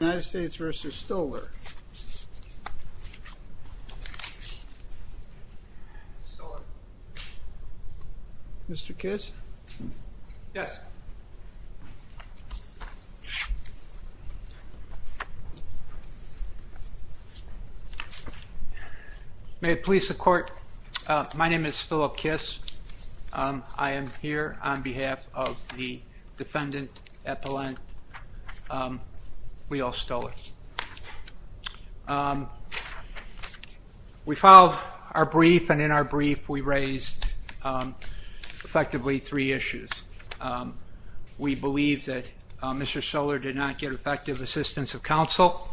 United States v. Stoller Mr. Kiss Yes May it please the Court My name is Phillip Kiss I am here on behalf of the defendant at the line, Leo Stoller We filed our brief and in our brief we raised effectively three issues We believe that Mr. Stoller did not get effective assistance of counsel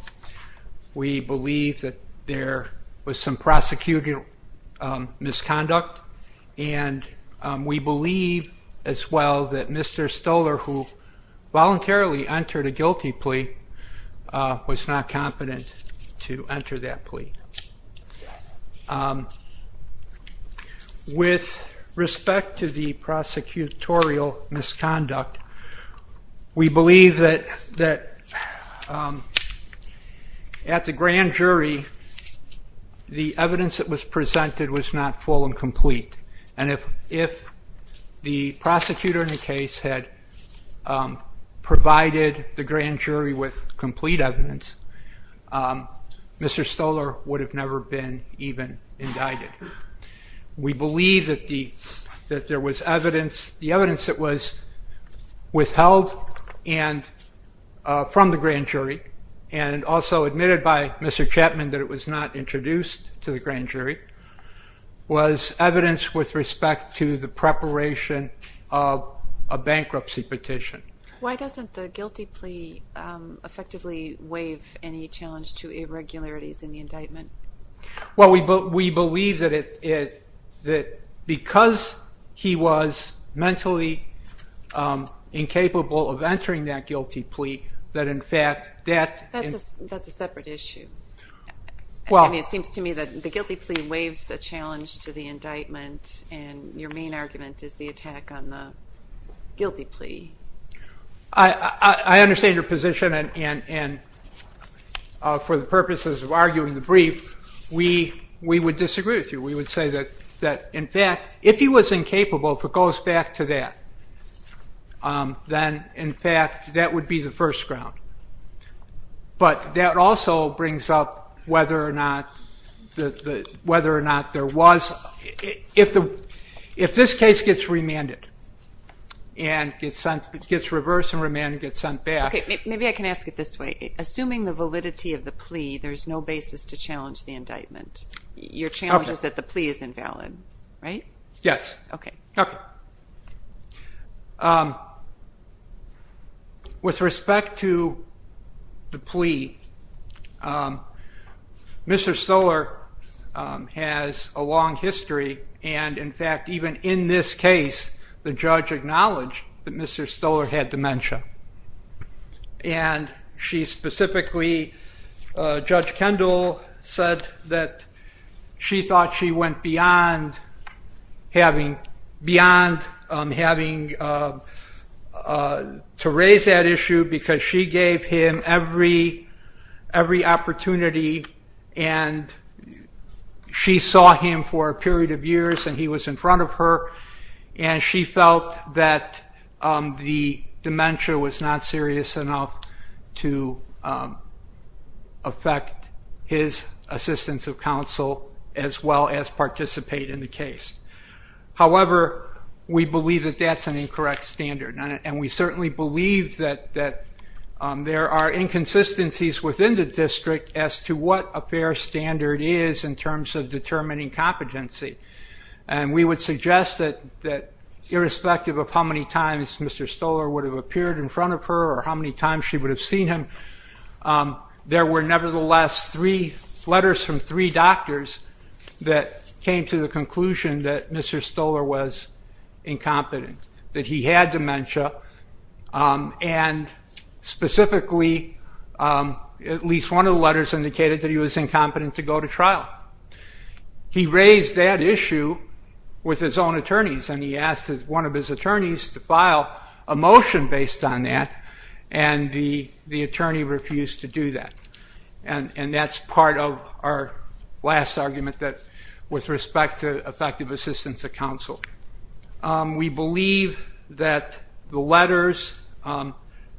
We believe that there was some prosecuting misconduct and we believe as well that Mr. Stoller who voluntarily entered a guilty plea was not competent to enter that plea With respect to the prosecutorial misconduct we believe that at the grand jury the evidence that was presented was not full and complete and if the prosecutor in the case had provided the grand jury with complete evidence Mr. Stoller would have never been even indicted We believe that there was evidence the evidence that was withheld from the grand jury and also admitted by Mr. Chapman that it was not introduced to the grand jury was evidence with respect to the preparation of a bankruptcy petition Why doesn't the guilty plea effectively waive any challenge to irregularities in the indictment? Well we believe that because he was mentally incapable of entering that guilty plea That's a separate issue It seems to me that the guilty plea waives a challenge to the indictment and your main argument is the attack on the guilty plea I understand your position and for the purposes of arguing the brief we would disagree with you. We would say that in fact if he was incapable, if it goes back to that then in fact that would be the first ground but that also brings up whether or not whether or not there was if this case gets remanded and gets reversed and remanded and gets sent back Maybe I can ask it this way. Assuming the validity of the plea there's no basis to challenge the indictment Your challenge is that the plea is invalid, right? Yes With respect to the plea Mr. Stoler has a long history and in fact even in this case the judge acknowledged that Mr. Stoler had dementia and she specifically Judge Kendall said that she thought she went beyond beyond having to raise that issue because she gave him every opportunity and she saw him for a period of years and he was in front of her and she felt that the dementia was not serious enough to affect his assistance of counsel as well as participate in the case However, we believe that that's an incorrect standard and we certainly believe that there are inconsistencies within the district as to what a fair standard is in terms of determining competency and we would suggest that irrespective of how many times Mr. Stoler would have appeared in front of her or how many times she would have seen him there were nevertheless three letters from three doctors that came to the conclusion that Mr. Stoler was incompetent that he had dementia and specifically at least one of the letters indicated that he was incompetent to go to trial He raised that issue with his own attorneys and he asked one of his attorneys to file a motion based on that and the attorney refused to do that and that's part of our last argument with respect to effective assistance of counsel We believe that the letters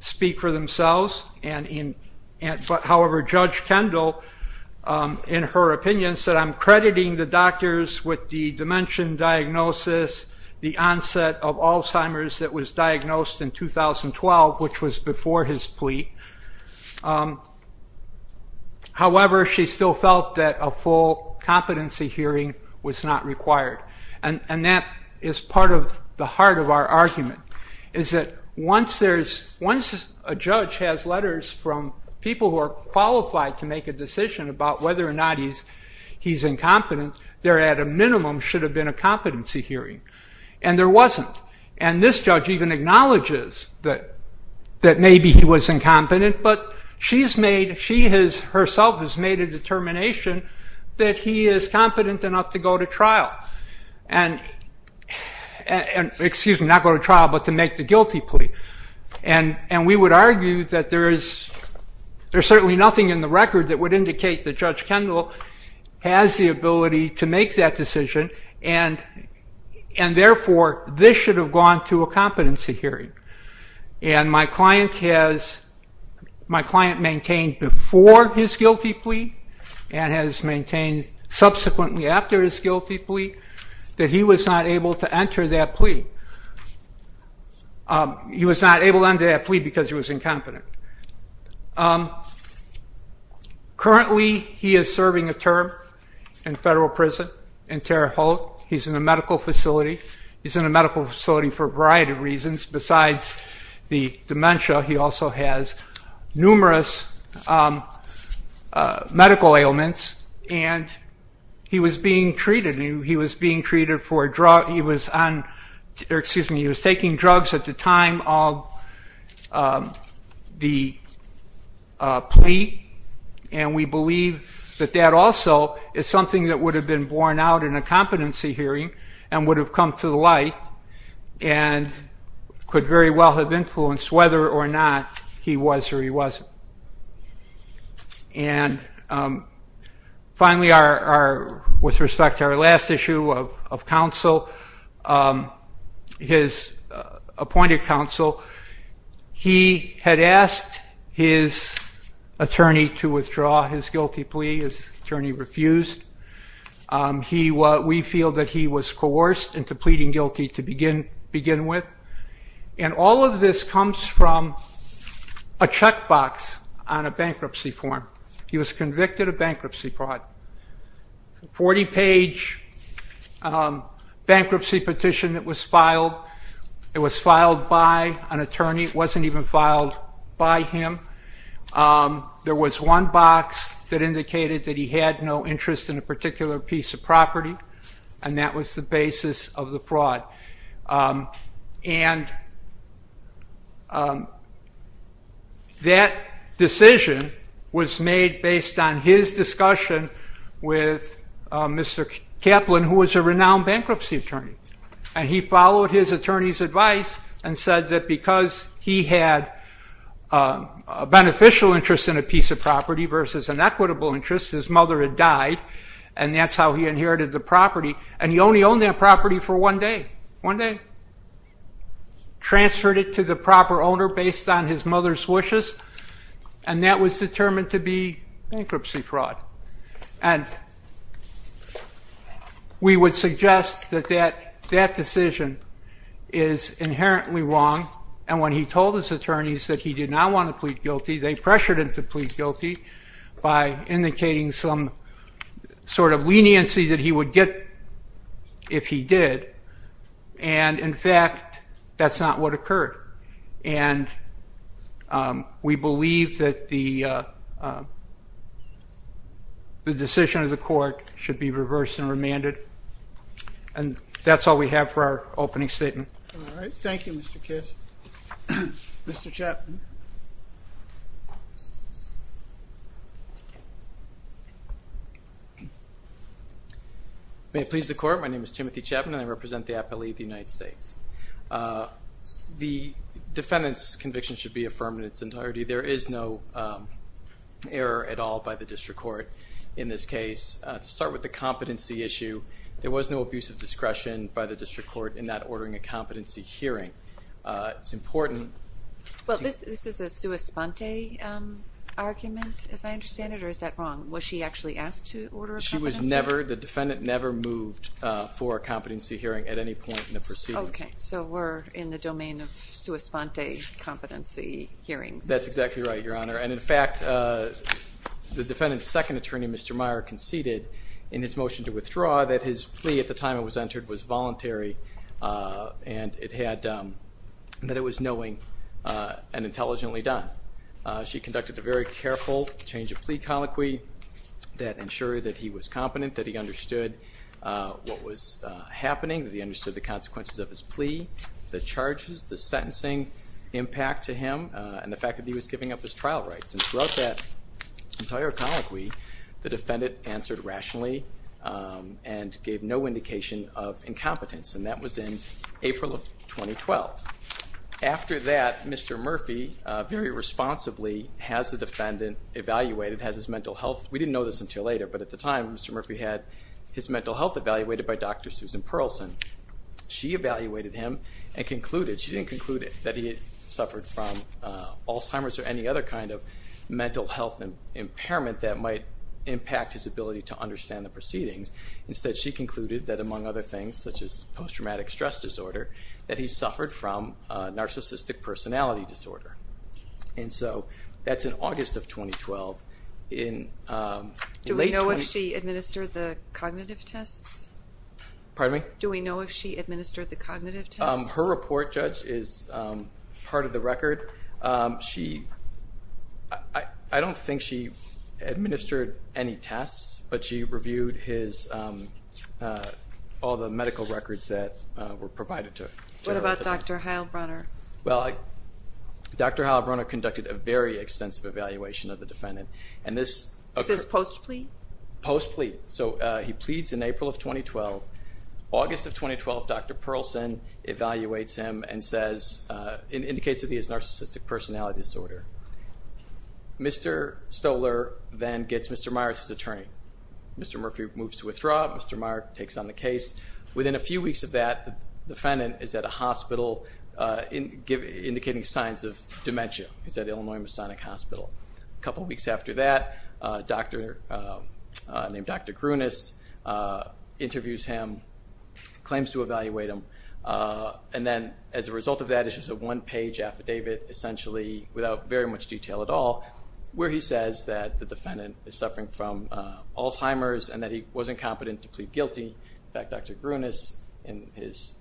speak for themselves However, Judge Kendall in her opinion said I'm crediting the doctors with the dementia diagnosis the onset of Alzheimer's that was diagnosed in 2012 which was before his plea However, she still felt that a full competency hearing was not required and that is part of the heart of our argument is that once a judge has letters from people who are qualified to make a decision about whether or not he's incompetent there at a minimum should have been a competency hearing and there wasn't and this judge even acknowledges that maybe he was incompetent but she herself has made a determination that he is competent enough to go to trial excuse me, not go to trial but to make the guilty plea and we would argue that there is certainly nothing in the record that would indicate that Judge Kendall has the ability to make that decision and therefore this should have gone to a competency hearing and my client has maintained before his guilty plea and has maintained subsequently after his guilty plea that he was not able to enter that plea he was not able to enter that plea because he was incompetent currently he is serving a term in federal prison in Terre Haute he's in a medical facility he's in a medical facility for a variety of reasons besides the dementia he also has numerous medical ailments and he was being treated he was being treated for drugs he was taking drugs at the time of the plea and we believe that that also is something that would have been borne out in a competency hearing and would have come to light and could very well have influenced whether or not he was or he wasn't and finally with respect to our last issue of counsel his appointed counsel he had asked his attorney to withdraw his guilty plea his attorney refused we feel that he was coerced into pleading guilty to begin with and all of this comes from a checkbox on a bankruptcy form he was convicted of bankruptcy fraud 40 page bankruptcy petition that was filed it was filed by an attorney it wasn't even filed by him there was one box that indicated that he had no interest in a particular piece of property and that was the basis of the fraud and that decision was made based on his discussion with Mr. Kaplan who was a renowned bankruptcy attorney and he followed his attorney's advice and said that because he had a beneficial interest in a piece of property versus an equitable interest his mother had died and that's how he inherited the property and he only owned that property for one day transferred it to the proper owner based on his mother's wishes and that was determined to be bankruptcy fraud and we would suggest that that decision is inherently wrong and when he told his attorneys that he did not want to plead guilty they pressured him to plead guilty by indicating some sort of leniency that he would get if he did and in fact that's not what occurred and we believe that the decision of the court should be reversed and remanded and that's all we have for our opening statement Thank you Mr. Kiss Mr. Kaplan May it please the court My name is Timothy Chapman and I represent the appellee of the United States The defendant's conviction should be affirmed in its entirety There is no error at all by the district court in this case To start with the competency issue there was no abuse of discretion by the district court in that ordering a competency hearing It's important Well this is a sua sponte argument as I understand it or is that wrong? Was she actually asked to order a competency hearing? The defendant never moved for a competency hearing at any point in the pursuit So we're in the domain of sua sponte competency hearings That's exactly right Your Honor and in fact the defendant's second attorney Mr. Meyer conceded in his motion to withdraw that his plea at the time it was entered was voluntary and it had that it was knowing and intelligently done She conducted a very careful change of plea colloquy that ensured that he was competent that he understood what was happening that he understood the consequences of his plea the charges, the sentencing impact to him and the fact that he was giving up his trial rights and throughout that entire colloquy the defendant answered rationally and gave no indication of incompetence and that was in April of 2012 After that Mr. Murphy very responsibly has the defendant evaluated, has his mental health we didn't know this until later but at the time Mr. Murphy had his mental health evaluated by Dr. Susan Pearlson She evaluated him and concluded, she didn't conclude it that he had suffered from Alzheimer's or any other kind of mental health impairment that might impact his ability to understand the proceedings Instead she concluded that among other things such as post-traumatic stress disorder that he suffered from narcissistic personality disorder and so that's in August of 2012 Do we know if she administered the cognitive tests? Pardon me? Do we know if she administered the cognitive tests? Her report judge is part of the record I don't think she administered any tests but she reviewed his all the medical records that were provided to her What about Dr. Heilbronner? Dr. Heilbronner conducted a very extensive evaluation of the defendant and this... Is this post-plea? Post-plea, so he pleads in April of 2012 August of 2012 Dr. Pearlson evaluates him and says, indicates that he has narcissistic personality disorder Mr. Stoler then gets Mr. Myers as attorney Mr. Murphy moves to withdraw, Mr. Myers takes on the case Within a few weeks of that, the defendant is at a hospital indicating signs of dementia He's at Illinois Masonic Hospital A couple weeks after that, a doctor named Dr. Grunus interviews him claims to evaluate him and then as a result of that, it's just a one-page affidavit essentially without very much detail at all where he says that the defendant is suffering from Alzheimer's and that he wasn't competent to plead guilty In fact, Dr. Grunus, in his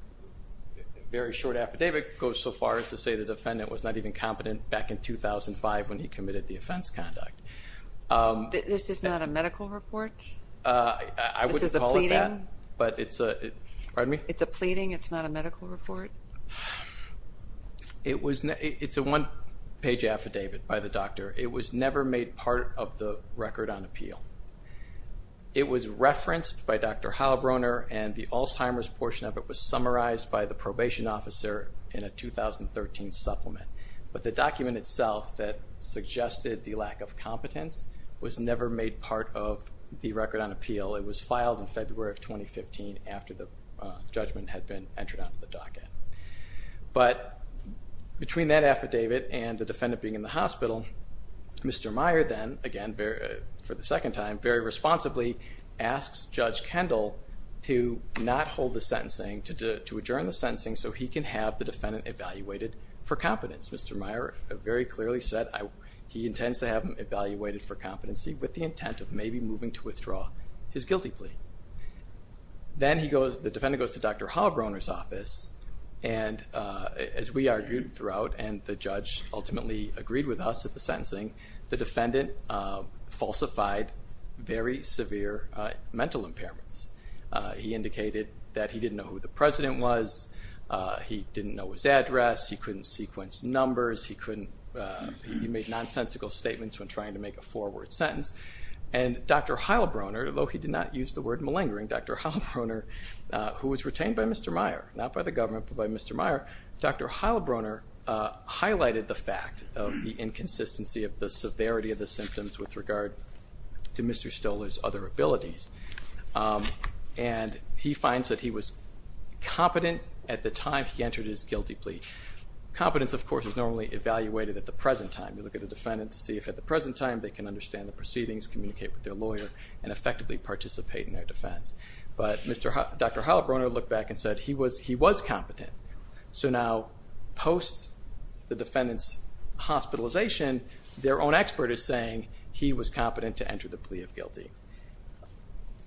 very short affidavit goes so far as to say the defendant was not even competent back in 2005 when he committed the offense conduct This is not a medical report? This is a pleading? It's a pleading, it's not a medical report? It's a one-page affidavit by the doctor It was never made part of the record on appeal It was referenced by Dr. Heilbroner and the Alzheimer's portion of it was summarized by the probation officer in a 2013 supplement but the document itself that suggested the lack of competence was never made part of the record on appeal It was filed in February of 2015 after the judgment had been entered onto the docket But between that affidavit and the defendant being in the hospital Mr. Meyer then, again for the second time, very responsibly asks Judge Kendall to not hold the sentencing to adjourn the sentencing so he can have the defendant evaluated for competence. Mr. Meyer very clearly said he intends to have him evaluated for competency with the intent of maybe moving to withdraw his guilty plea Then the defendant goes to Dr. Heilbroner's office and as we argued throughout and the judge ultimately agreed with us at the sentencing, the defendant falsified very severe mental impairments He indicated that he didn't know who the president was he didn't know his address he couldn't sequence numbers he made nonsensical statements when trying to make a four word sentence and Dr. Heilbroner, although he did not use the word malingering Dr. Heilbroner, who was retained by Mr. Meyer not by the government, but by Mr. Meyer Dr. Heilbroner highlighted the fact of the inconsistency of the severity of the symptoms with regard to Mr. Stoler's other abilities and he finds that he was competent at the time he entered his guilty plea. Competence of course is normally evaluated at the present time. You look at the defendant to see if at the present time they can understand the proceedings, communicate with their lawyer and effectively participate in their defense but Dr. Heilbroner looked back and said he was competent. So now post the defendant's hospitalization their own expert is saying he was competent to enter the plea of guilty.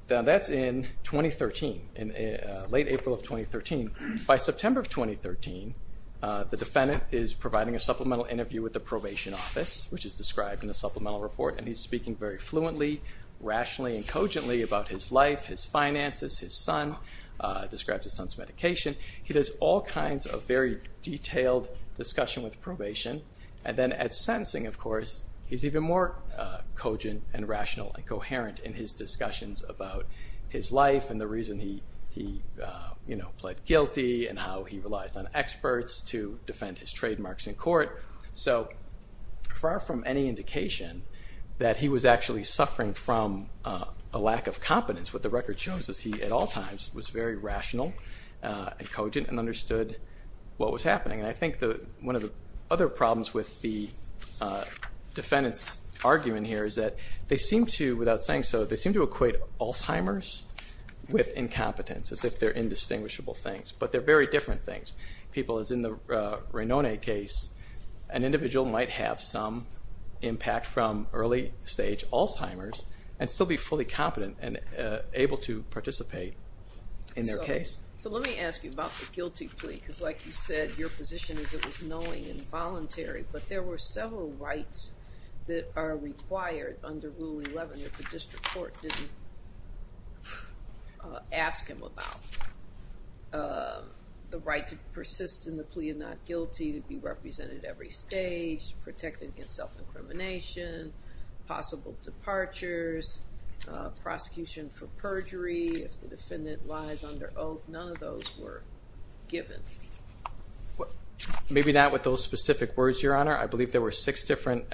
Now that's in 2013, in late April of 2013 by September of 2013 the defendant is providing a supplemental interview with the probation office which is described in the supplemental report and he's speaking very fluently rationally and cogently about his life, his finances his son, describes his son's medication he does all kinds of very detailed discussion with probation and then at sentencing of course he's even more cogent and rational and the reason he, you know, pled guilty and how he relies on experts to defend his trademarks in court. So far from any indication that he was actually suffering from a lack of competence. What the record shows is he at all times was very rational and cogent and understood what was happening and I think that one of the other problems with the defendant's argument here is that they seem to, without saying so they seem to equate Alzheimer's with incompetence as if they're indistinguishable things, but they're very different things people as in the Ranone case an individual might have some impact from early stage Alzheimer's and still be fully competent and able to participate in their case. So let me ask you about the guilty plea because like you said your position is it was knowing and voluntary but there were several rights that are required under Rule 11 if the district court didn't ask him about the right to persist in the plea of not guilty to be represented every stage, protected against self-incrimination possible departures prosecution for perjury if the defendant lies under oath. None of those were given. Maybe not with those specific words your honor. I believe there were six different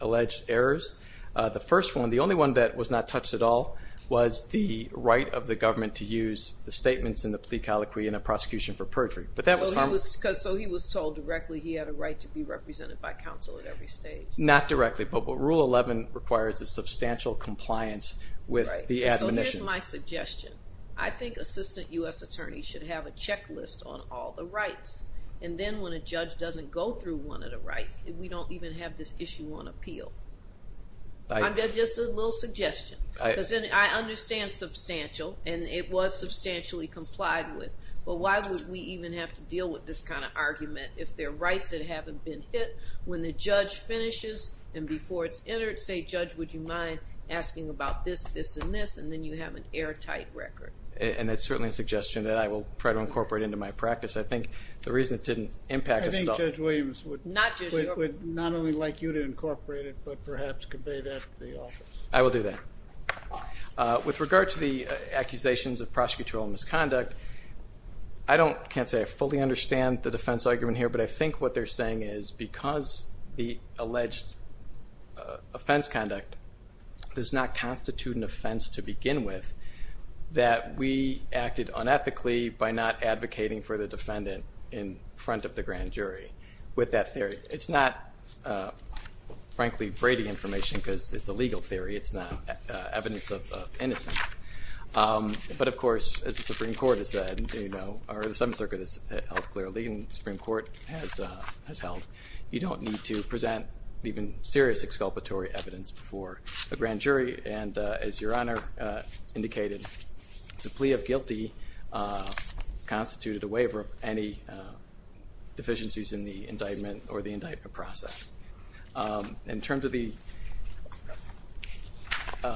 alleged errors the first one, the only one that was not touched at all was the right of the government to use the statements in the plea colloquy in a prosecution for perjury. So he was told directly he had a right to be represented by counsel at every stage. Not directly, but Rule 11 requires a substantial compliance with the admonitions. So here's my suggestion. I think assistant U.S. attorney should have a checklist on all the rights and then when a judge doesn't go through one of the rights we don't even have this issue on appeal. Just a little suggestion. I understand substantial and it was substantially complied with. But why would we even have to deal with this kind of argument if there are rights that haven't been hit when the judge finishes and before it's entered say judge would you mind asking about this this and this and then you have an airtight record. And that's certainly a suggestion that I will try to incorporate into my practice. I think the reason it didn't impact us at all. I think Judge Williams would not only like you to incorporate it but perhaps convey that to the office. I will do that. With regard to the accusations of prosecutorial misconduct I can't say I fully understand the defense argument here but I think what they're saying is because the alleged offense conduct does not constitute an offense to begin with that we acted unethically by not advocating for the defendant in front of the grand jury with that theory. It's not frankly Brady information because it's a legal theory. It's not evidence of innocence but of course as the Supreme Court has said you know or the Seventh Circuit has held clearly and the Supreme Court has held you don't need to present even serious exculpatory evidence before a grand jury and as your Honor indicated the plea of guilty constituted a waiver of any deficiencies in the indictment or the indictment process. In terms of the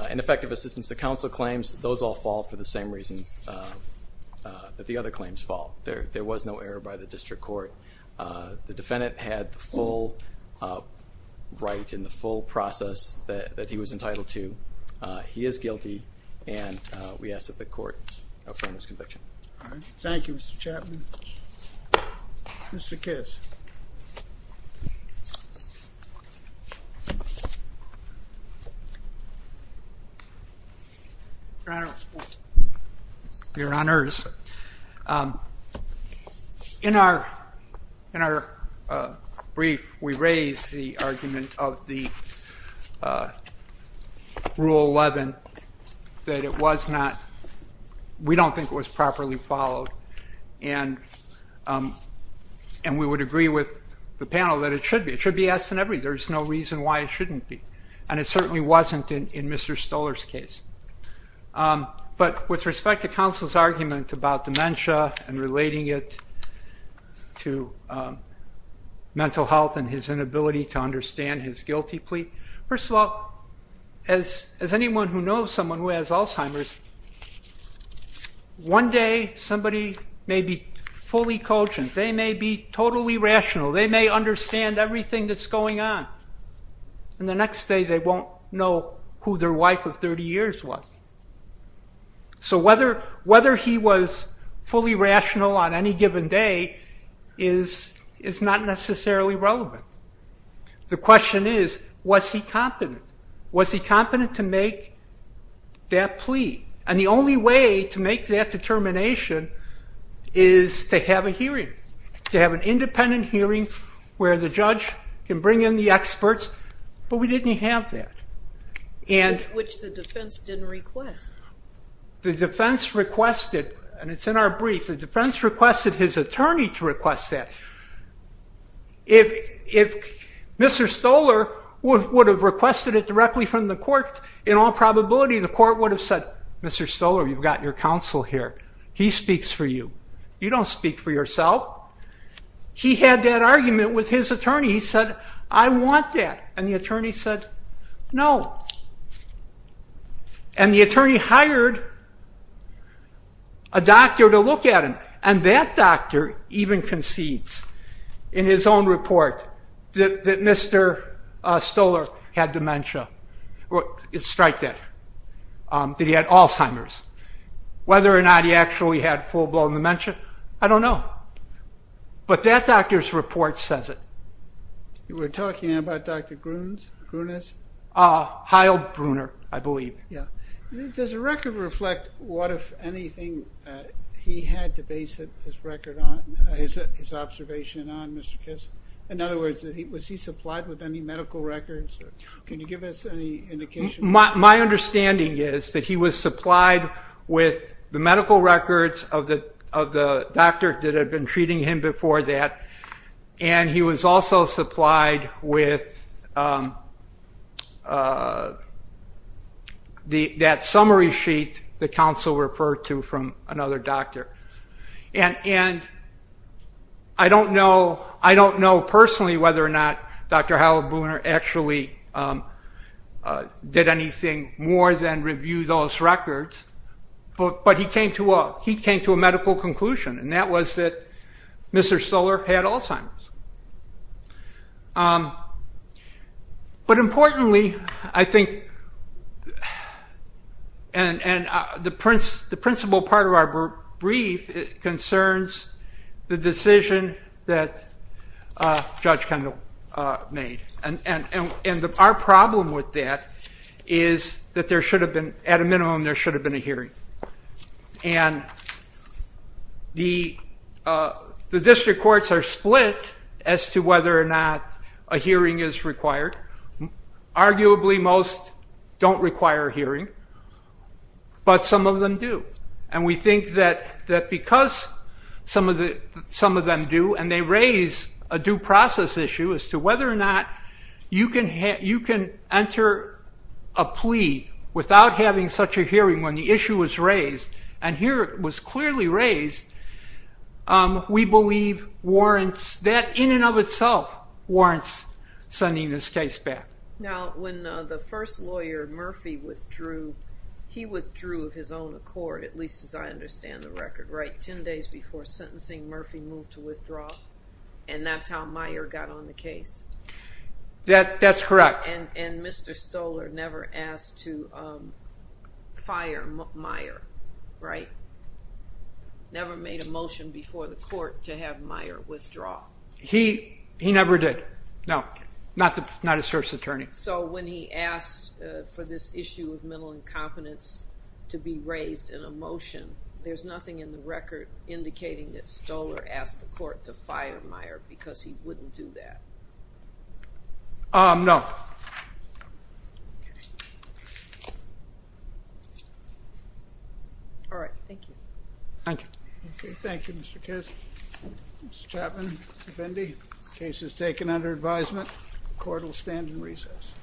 ineffective assistance to counsel claims those all fall for the same reasons that the other claims fall. There was no error by the district court. The defendant had the full right in the full process that he was entitled to. He is guilty and we ask that the court affirm his conviction. Thank you Mr. Chapman. Mr. Kiss. Your Honors in our brief we raised the argument of the Rule 11 that it was not we don't think it was properly followed and we would agree with the panel that it should be. It should be yes and every. There's no reason why it shouldn't be and it certainly wasn't in Mr. Stoler's case. But with respect to counsel's argument about dementia and relating it to mental health and his inability to understand his guilty plea. First of all as anyone who knows someone who has Alzheimer's one day somebody may be fully cogent. They may be totally rational. They may understand everything that's going on and the next day they won't know who their wife of 30 years was. So whether he was fully rational on any given day is not necessarily relevant. The question is was he competent? Was he competent to make that plea? And the only way to make that determination is to have a hearing. To have an independent hearing where the judge can bring in the experts. But we didn't have that. Which the defense didn't request. The defense requested and it's in our brief. The defense requested his attorney to request that. If Mr. Stoler would have requested it directly from the court in all probability the court would have said Mr. Stoler you've got your counsel here. He speaks for you. You don't speak for yourself. He had that argument with his attorney. He said I want that. And the attorney said no. And the attorney hired a doctor to look at him and that doctor even concedes in his own report that Mr. Stoler had dementia. Strike that. That he had Alzheimer's. Whether or not he actually had full-blown dementia, I don't know. But that doctor's report says it. You were talking about Dr. Grunes? Heil Bruner, I believe. Does the record reflect what if anything he had to base his record on? His observation on Mr. Kiss? In other words was he supplied with any medical records? Can you give us any indication? My understanding is that he was supplied with the medical records of the doctor that had been treating him before that and he was also supplied with that summary sheet the counsel referred to from another doctor. And I don't know personally whether or not Dr. Heil Bruner actually did anything more than review those records but he came to a medical conclusion and that was that Mr. Stoler had Alzheimer's. But importantly I think and the principal part of our brief concerns the decision that Judge Kendall made and our problem with that is that at a minimum there should have been a hearing and the district courts are split as to whether or not a hearing is required. Arguably most don't require a hearing but some of them do and we think that because some of them do and they raise a due process issue as to whether or not you can enter a plea without having such a hearing when the issue was raised and here it was clearly raised we believe warrants that in and of itself warrants sending this case back. Now when the first lawyer Murphy withdrew he withdrew of his own accord at least as I understand the record right 10 days before sentencing Murphy moved to withdraw and that's how Meyer got on the case? That's correct. And Mr. Stoler never asked to fire Meyer, right? Never made a motion before the court to have Meyer withdraw? He never did. No, not his first attorney. So when he asked for this issue of mental incompetence to be raised in a motion there's nothing in the record indicating that Stoler asked the court to fire Meyer because he wouldn't do that? No. Alright, thank you. Thank you. Thank you Mr. Case. Mr. Chapman, Mr. Fendi, case is taken under advisement. Court will stand in recess.